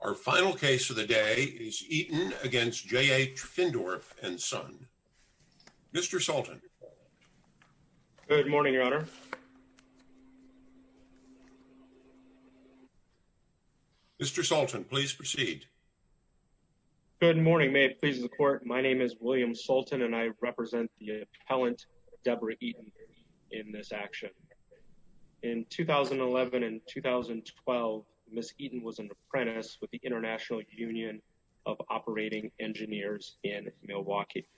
Our final case of the day is Eaton v. J.H. Findorff & Son. Mr. Sultan. Good morning, Your Honor. Mr. Sultan, please proceed. Good morning. May it please the Court, my name is William Sultan and I represent the Apprentice with the International Union of Operating Engineers in Milwaukee.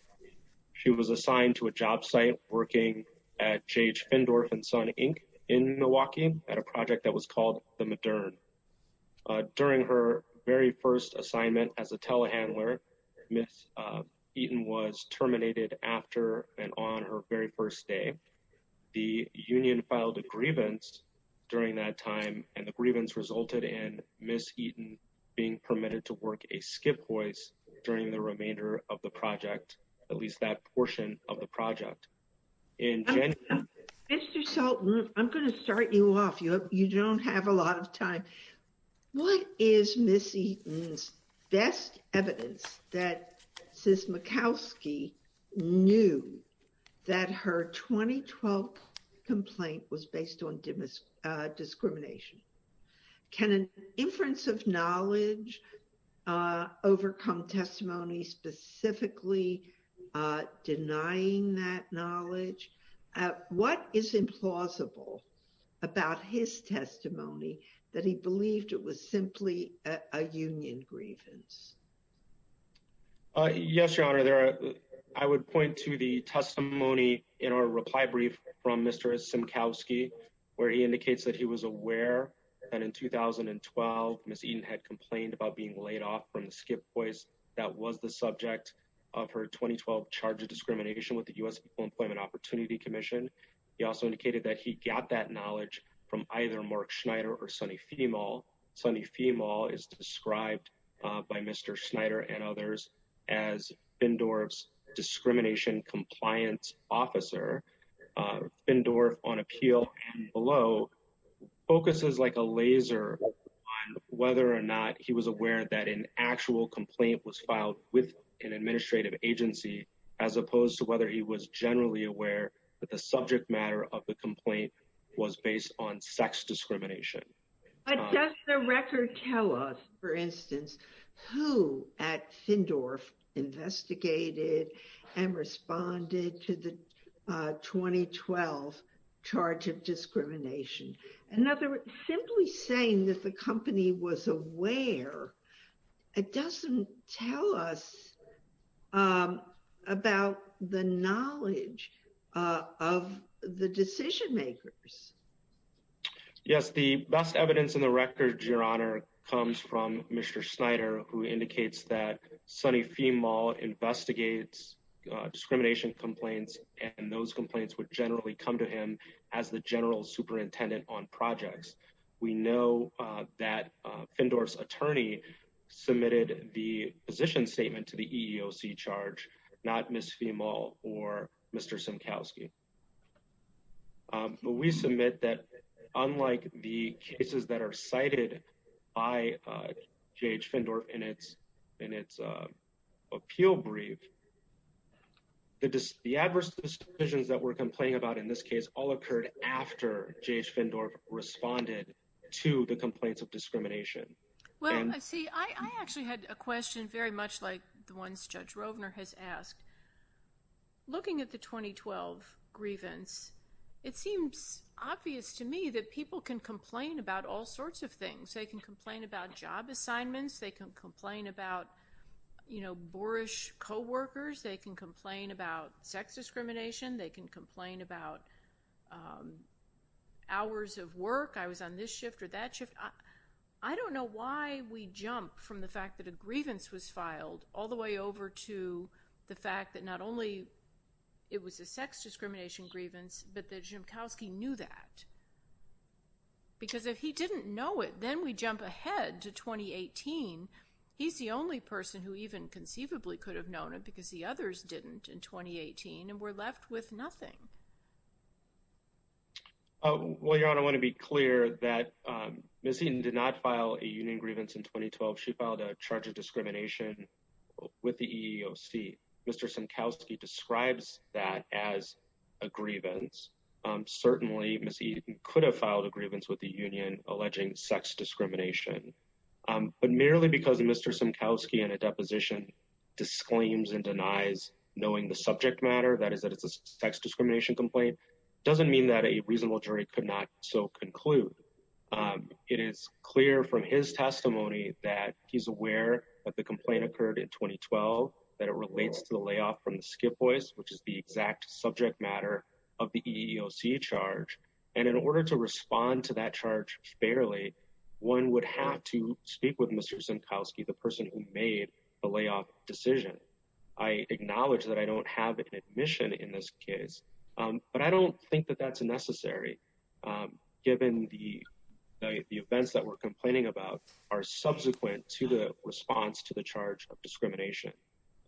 She was assigned to a job site working at J.H. Findorff & Son, Inc. in Milwaukee at a project that was called The Modern. During her very first assignment as a telehandler, Ms. Eaton was terminated after and on her very first day. The union filed a grievance during that time and the Eaton being permitted to work a skip hoist during the remainder of the project, at least that portion of the project. Mr. Sultan, I'm going to start you off. You don't have a lot of time. What is Ms. Eaton's best evidence that Ms. Murkowski knew that her 2012 complaint was based on discrimination? Can an inference of knowledge overcome testimony specifically denying that knowledge? What is implausible about his testimony that he believed it was simply a union grievance? Yes, Your Honor. I would point to the testimony in our reply brief from Mr. Simkowski, where he indicates that he was aware that in 2012, Ms. Eaton had complained about being laid off from the skip hoist that was the subject of her 2012 charge of discrimination with the U.S. Employment Opportunity Commission. He also indicated that he got that knowledge from either Mark Schneider or Sonny Femal. Sonny Femal is described by Mr. Schneider and others as Findorff's discrimination compliance officer. Findorff, on appeal and below, focuses like a laser on whether or not he was aware that an actual complaint was filed with an administrative agency, as opposed to whether he was generally aware that the subject matter of the complaint was based on sex discrimination. But does the record tell us, for instance, who at Findorff investigated and responded to the 2012 charge of discrimination? In other words, simply saying that the company was aware, it doesn't tell us about the knowledge of the decision makers. Yes, the best evidence in the record, Your Honor, comes from Mr. Schneider, who indicates that Sonny Femal investigates discrimination complaints, and those complaints would generally come to him as the general superintendent on projects. We know that Findorff's attorney submitted the position statement to the EEOC charge, not Ms. Femal or Mr. Schneider. The adverse decisions that were complained about in this case all occurred after J.H. Findorff responded to the complaints of discrimination. Well, see, I actually had a question very much like the ones Judge Rovner has asked. Looking at the 2012 grievance, it seems obvious to me that people can complain about all sorts of things. They can complain about job assignments. They can complain about boorish co-workers. They can complain about sex discrimination. They can complain about hours of work. I was on this shift or that shift. I don't know why we jump from the fact that a grievance was filed all the way over to the fact that not only it was a sex discrimination grievance, but that Ziemkowski knew that. Because if he didn't know it, then we jump ahead to 2018. He's the only person who even conceivably could have known it because the others didn't in 2018 and were left with nothing. Well, Your Honor, I want to be clear that Ms. Eaton did not file a union grievance in 2012. She filed a charge of discrimination with the EEOC. Mr. Ziemkowski describes that as a grievance. Certainly, Ms. Eaton could have filed a grievance with the union alleging sex discrimination. But merely because Mr. Ziemkowski in a deposition disclaims and denies knowing the subject matter, that is that it's a sex discrimination complaint, doesn't mean that a reasonable jury could not so conclude. It is clear from his testimony that he's to the layoff from the skip voice, which is the exact subject matter of the EEOC charge. And in order to respond to that charge fairly, one would have to speak with Mr. Ziemkowski, the person who made the layoff decision. I acknowledge that I don't have an admission in this case, but I don't think that that's necessary given the events that we're complaining about are subsequent to the charge of discrimination.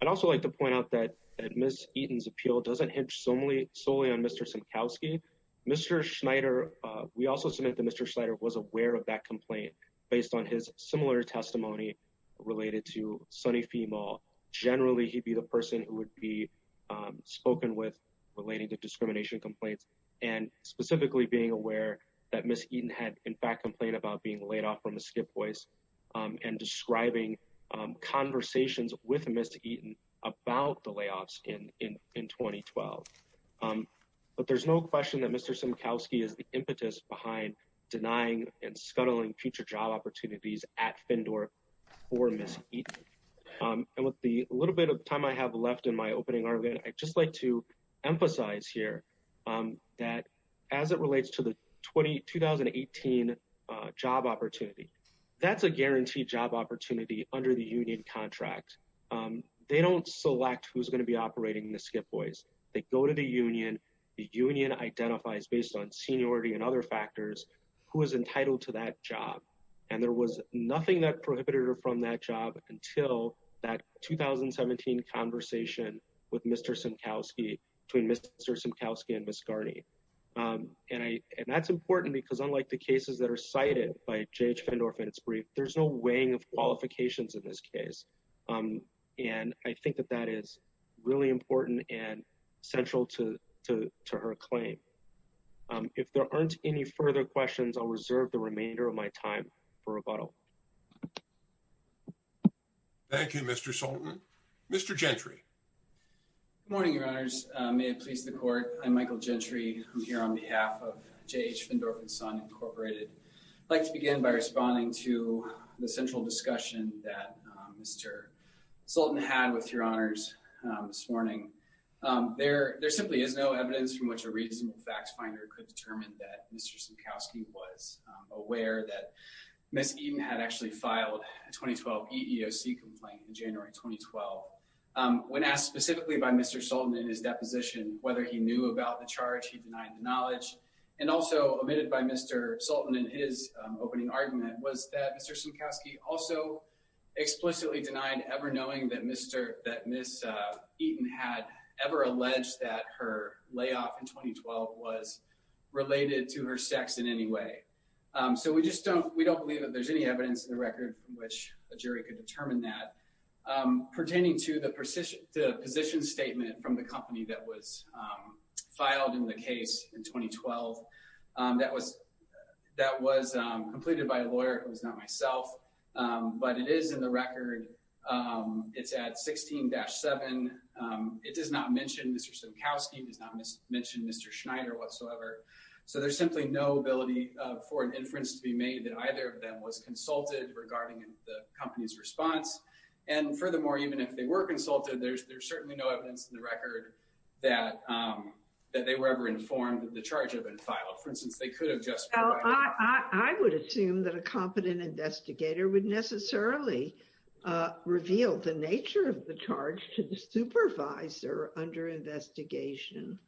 I'd also like to point out that Ms. Eaton's appeal doesn't hinge solely on Mr. Ziemkowski. Mr. Schneider, we also submit that Mr. Schneider was aware of that complaint based on his similar testimony related to Sonny Fee Mall. Generally, he'd be the person who would be spoken with relating to discrimination complaints and specifically being aware that Ms. Eaton had in fact complained about being laid off from a skip voice and describing conversations with Ms. Eaton about the layoffs in 2012. But there's no question that Mr. Ziemkowski is the impetus behind denying and scuttling future job opportunities at Fyndorf for Ms. Eaton. And with the little bit of time I have left in my opening argument, I'd just like to point out that the 2017 job opportunity, that's a guaranteed job opportunity under the union contract. They don't select who's going to be operating the skip voice. They go to the union. The union identifies based on seniority and other factors who is entitled to that job. And there was nothing that prohibited her from that job until that 2017 conversation with Mr. Ziemkowski between Mr. Ziemkowski and Ms. Eaton. And I think that that is really important and central to her claim. If there aren't any further questions, I'll reserve the remainder of my time for rebuttal. Thank you, Mr. Sultan. Mr. Gentry. Good morning, your honors. May it please the court. I'm Michael Gentry. I'm here on behalf of J.H. Fyndorf and Son Incorporated. I'd like to begin by responding to the central discussion that Mr. Sultan had with your honors this morning. There simply is no evidence from which a reasonable fact finder could determine that Mr. Ziemkowski was aware that Ms. Eaton had actually filed a 2012 EEOC complaint in January 2012. When asked specifically by Mr. Ziemkowski, he denied the charge. He denied the knowledge. And also omitted by Mr. Sultan in his opening argument was that Mr. Ziemkowski also explicitly denied ever knowing that Ms. Eaton had ever alleged that her layoff in 2012 was related to her sex in any way. So we just don't we don't believe that there's any evidence in the record from which a jury could determine that. Pertaining to the position statement from the company that was filed in the case in 2012, that was that was completed by a lawyer. It was not myself. But it is in the record. It's at 16-7. It does not mention Mr. Ziemkowski. It does not mention Mr. Schneider whatsoever. So there's simply no ability for an inference to be made that either of them was consulted regarding the company's response. And furthermore, even if they were consulted, there's certainly no evidence in the record that that they were ever informed that the charge had been filed. For instance, they could have just. I would assume that a competent investigator would necessarily reveal the nature of the charge to the supervisor under investigation.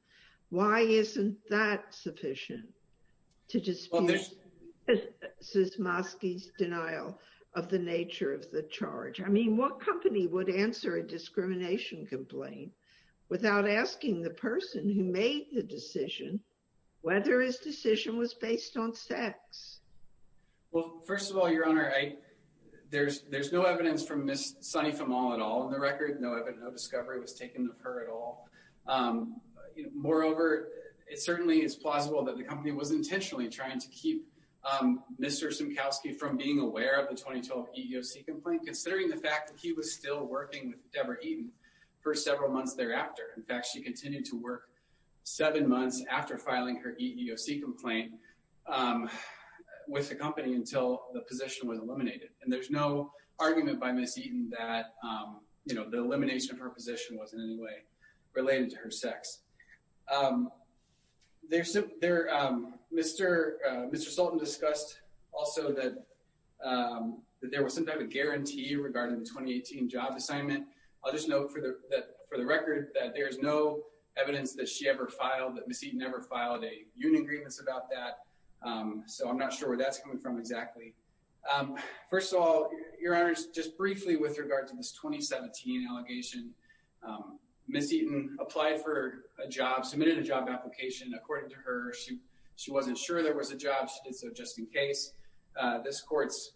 Why isn't that sufficient to dispute Ziemkowski's denial of the nature of the charge? I mean, what company would answer a discrimination complaint without asking the person who made the decision whether his decision was based on sex? Well, first of all, your honor, I there's there's no evidence from Miss Sonny from all at all in the record. No, I've had no discovery was taken of her at all. Moreover, it certainly is plausible that the company was intentionally trying to keep Mr. Ziemkowski from being aware of the 2012 EEOC complaint, considering the fact that he was still working with Deborah Eaton for several months thereafter. In fact, she continued to work seven months after filing her EEOC complaint with the company until the position was eliminated. And there's no argument by Miss Eaton that, you know, the elimination of her position was in any way related to her sex. There's there Mr. Mr. Sultan discussed also that that there was some type of guarantee regarding the twenty eighteen job assignment. I'll just note for the for the record that there is no evidence that she ever filed that Miss Eaton ever filed a union agreements about that. So I'm not sure where that's coming from exactly. First of all, your honor, just briefly with regard to this twenty seventeen allegation, Miss Eaton applied for a job, submitted a job application. According to her, she she wasn't sure there was a job. So just in case this court's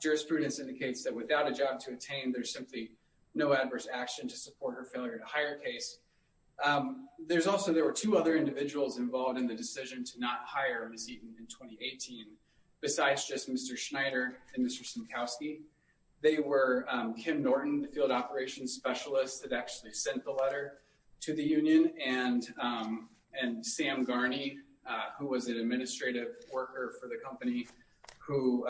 jurisprudence indicates that without a job to attain, there's simply no adverse action to support her failure to hire case. There's also there were two other individuals involved in the decision to not hire Miss Eaton in twenty eighteen besides just Mr. Schneider and Mr. Ziemkowski. They were Kim Norton, the field operations specialist that actually sent the letter to the union. And and Sam Garni, who was an administrative worker for the company who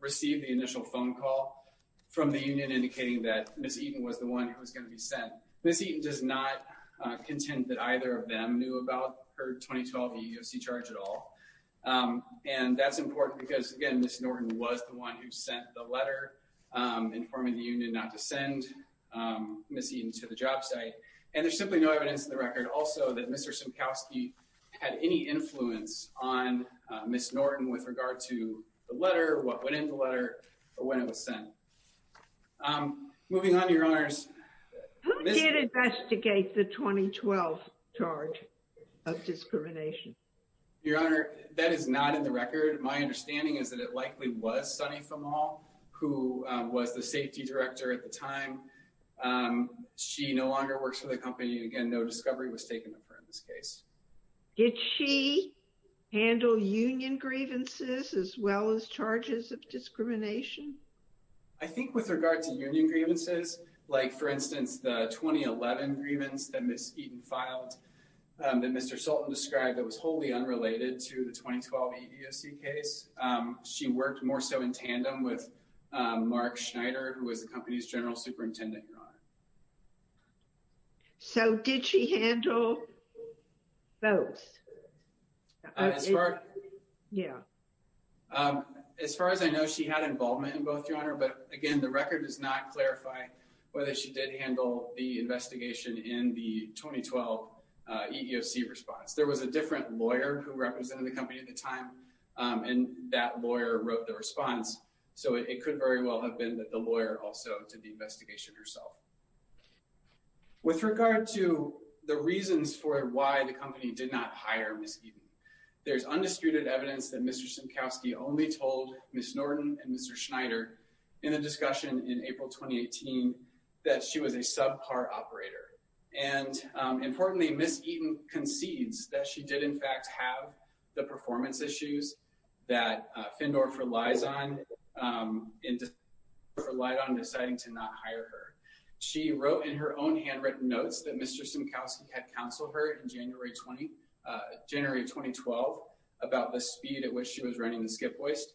received the initial phone call from the union indicating that Miss Eaton was the one who was going to be sent. Miss Eaton does not contend that either of them knew about her twenty twelve charge at all. And that's important because, again, Miss Norton was the one who sent the letter informing the union not to send Miss Eaton to the job site. And there's simply no evidence in the record also that Mr. Ziemkowski had any influence on Miss Norton with regard to the letter, what went in the letter, or when it was sent. Moving on, your honors. Who did investigate the twenty twelve charge of discrimination? Your honor, that is not in the record. My understanding is that it likely was Sonny from all who was the safety director at the time. She no longer works for the company. Again, no discovery was taken of her in this case. Did she handle union grievances as well as charges of discrimination? I think with regard to union grievances, like, for instance, the 2011 grievance that Miss Eaton filed that Mr. Sultan described that was wholly unrelated to the twenty twelve EEOC case, she worked more so in tandem with Mark Schneider, who was the company's general superintendent. So did she handle both? Yeah. As far as I know, she had involvement in both, your honor. But again, the record does not clarify whether she did handle the investigation in the twenty twelve EEOC response. There was a different lawyer who represented the company at the time, and that lawyer wrote the response. So it could very well have been that the lawyer also did the investigation herself. With regard to the reasons for why the company did not hire Miss Eaton, there's undisputed evidence that Mr. Simkowski only told Miss Norton and Mr. Schneider in a discussion in April twenty eighteen that she was a subpar operator. And importantly, Miss Eaton concedes that she did, in fact, have the performance issues that Fendorf relies on and relied on deciding to not hire her. She wrote in her own handwritten notes that Mr. Simkowski had counseled her in January twenty, January twenty twelve about the speed at which she was running the skip hoist.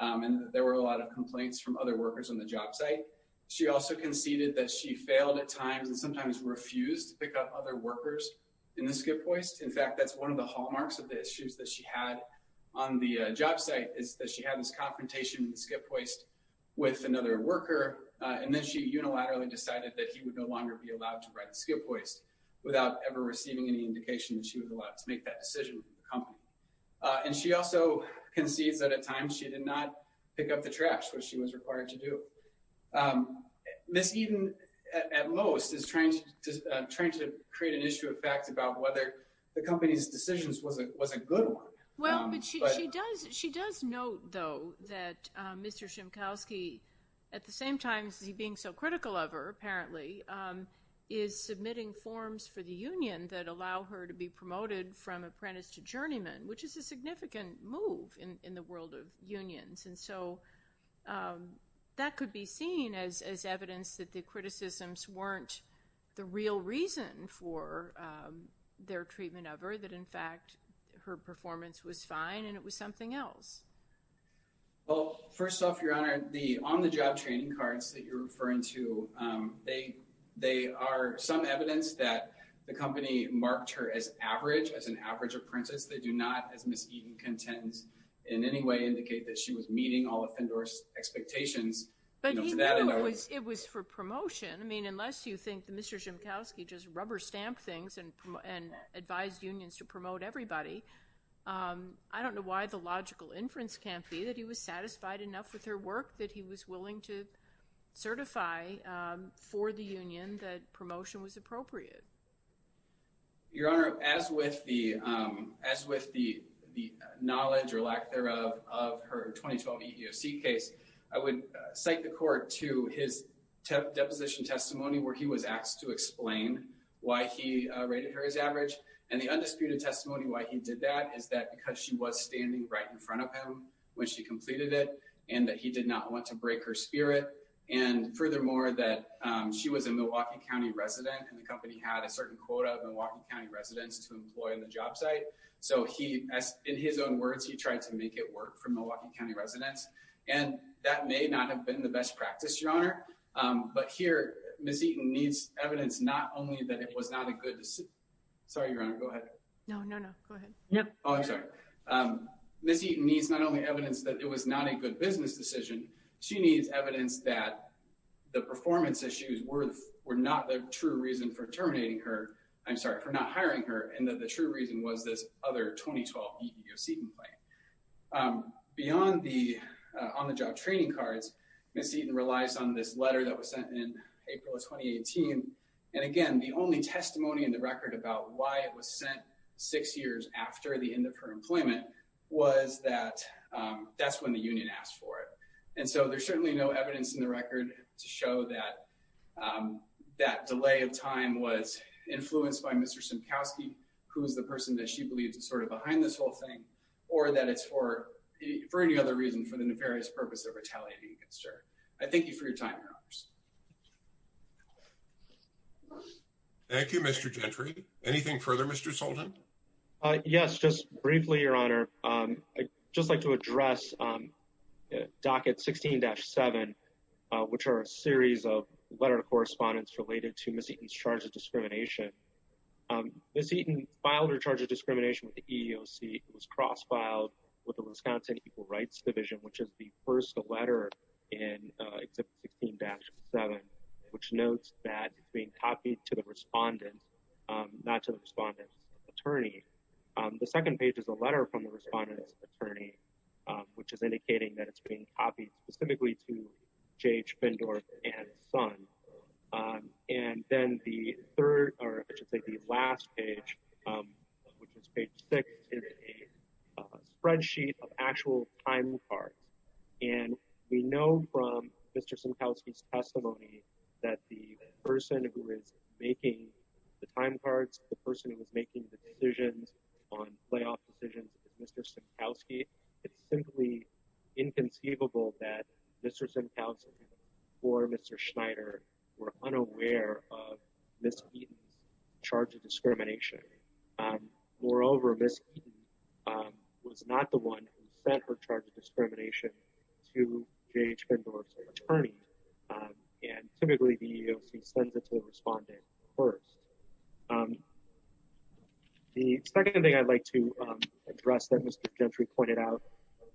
And there were a lot of complaints from other workers on the job site. She also conceded that she failed at times and sometimes refused to pick up other workers in the skip hoist. In fact, that's one of the hallmarks of the issues that she had on the job site is that she had this confrontation in the skip hoist with another worker. And then she unilaterally decided that he would no longer be allowed to write the skip hoist without ever receiving any indication that she was allowed to make that decision. And she also concedes that at times she did not pick up the trash, which she was required to do. Miss Eaton, at most, is trying to create an issue of fact about whether the company's decisions was a good one. Well, she does. She does note, though, that Mr. Simkowski, at the same time as he being so critical of her, apparently, is submitting forms for the union that allow her to be promoted from apprentice to journeyman, which is a significant move in the world of unions. And so that could be seen as evidence that the criticisms weren't the real reason for their treatment of her, that, in fact, her performance was fine and it was something else. Well, first off, Your Honor, the on-the-job training cards that you're referring to, they are some evidence that the company marked her as average, as an average apprentice. They do not, as Miss Eaton contends, in any way indicate that she was meeting all of Fendor's expectations. But even though it was for promotion, I mean, unless you think that Mr. Simkowski just rubber-stamped things and advised unions to promote everybody, I don't know why the logical inference can't be that he was satisfied enough with her work that he was willing to certify for the union that promotion was appropriate. Your Honor, as with the knowledge or lack thereof of her 2012 EEOC case, I would cite the court to his deposition testimony where he was asked to explain why he rated her as average. And the undisputed testimony why he did that is that because she was standing right in front of him when she completed it and that he did not want to break her spirit. And furthermore, that she was a certain quota of Milwaukee County residents to employ in the job site. So he, in his own words, he tried to make it work for Milwaukee County residents. And that may not have been the best practice, Your Honor. But here, Miss Eaton needs evidence not only that it was not a good decision. Sorry, Your Honor, go ahead. No, no, no, go ahead. Oh, I'm sorry. Miss Eaton needs not only evidence that it was not a good business decision, she needs evidence that the performance issues were not the true reason for terminating her, I'm sorry, for not hiring her and that the true reason was this other 2012 EEOC complaint. Beyond the on-the-job training cards, Miss Eaton relies on this letter that was sent in April of 2018. And again, the only testimony in the record about why it was sent six years after the end of her employment was that that's when the union asked for it. And so there's certainly no evidence in the record to show that that delay of time was influenced by Mr. Simkowski, who is the person that she believes is sort of behind this whole thing, or that it's for any other reason for the nefarious purpose of retaliating against her. I thank you for your time, Your Honors. Thank you, Mr. Gentry. Anything further, Mr. Sultan? Yes, just briefly, Your Honor. I'd just like to address docket 16-7, which are a series of letter of correspondence related to Miss Eaton's charge of discrimination. Miss Eaton filed her charge of discrimination with the EEOC. It was cross-filed with the Wisconsin Equal Rights Division, which is the first letter in exhibit 16-7, which notes that it's being copied to the attorney. The second page is a letter from the respondent's attorney, which is indicating that it's being copied specifically to J.H. Findorf and Son. And then the third, or I should say the last page, which is page six, is a spreadsheet of actual time cards. And we know from Mr. Simkowski's the person who is making the time cards, the person who was making the decisions on playoff decisions, Mr. Simkowski, it's simply inconceivable that Mr. Simkowski or Mr. Schneider were unaware of Miss Eaton's charge of discrimination. Moreover, Miss Eaton was not the one who sent her charge discrimination to J.H. Findorf's attorney. And typically the EEOC sends it to the respondent first. The second thing I'd like to address that Mr. Gentry pointed out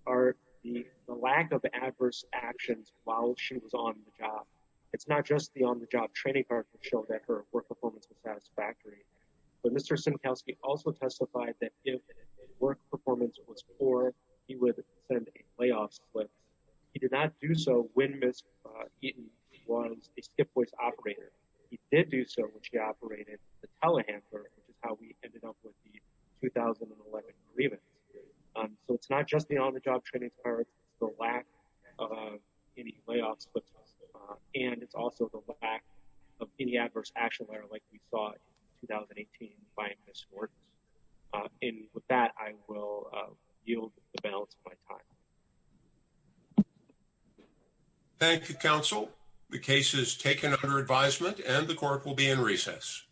are the lack of adverse actions while she was on the job. It's not just the on-the-job training card that showed that her work performance was satisfactory, but Mr. Simkowski also testified that if work performance was poor, he would send a layoff slip. He did not do so when Miss Eaton was a skip voice operator. He did do so when she operated the telehandler, which is how we ended up with the 2011 grievance. So it's not just the on-the-job training card, it's the lack of any layoff slips, and it's also the lack of any adverse action letter like we saw in 2018 by Miss Gordon. And with that, I will yield the balance of my time. Thank you, counsel. The case is taken under advisement and the court will be in recess.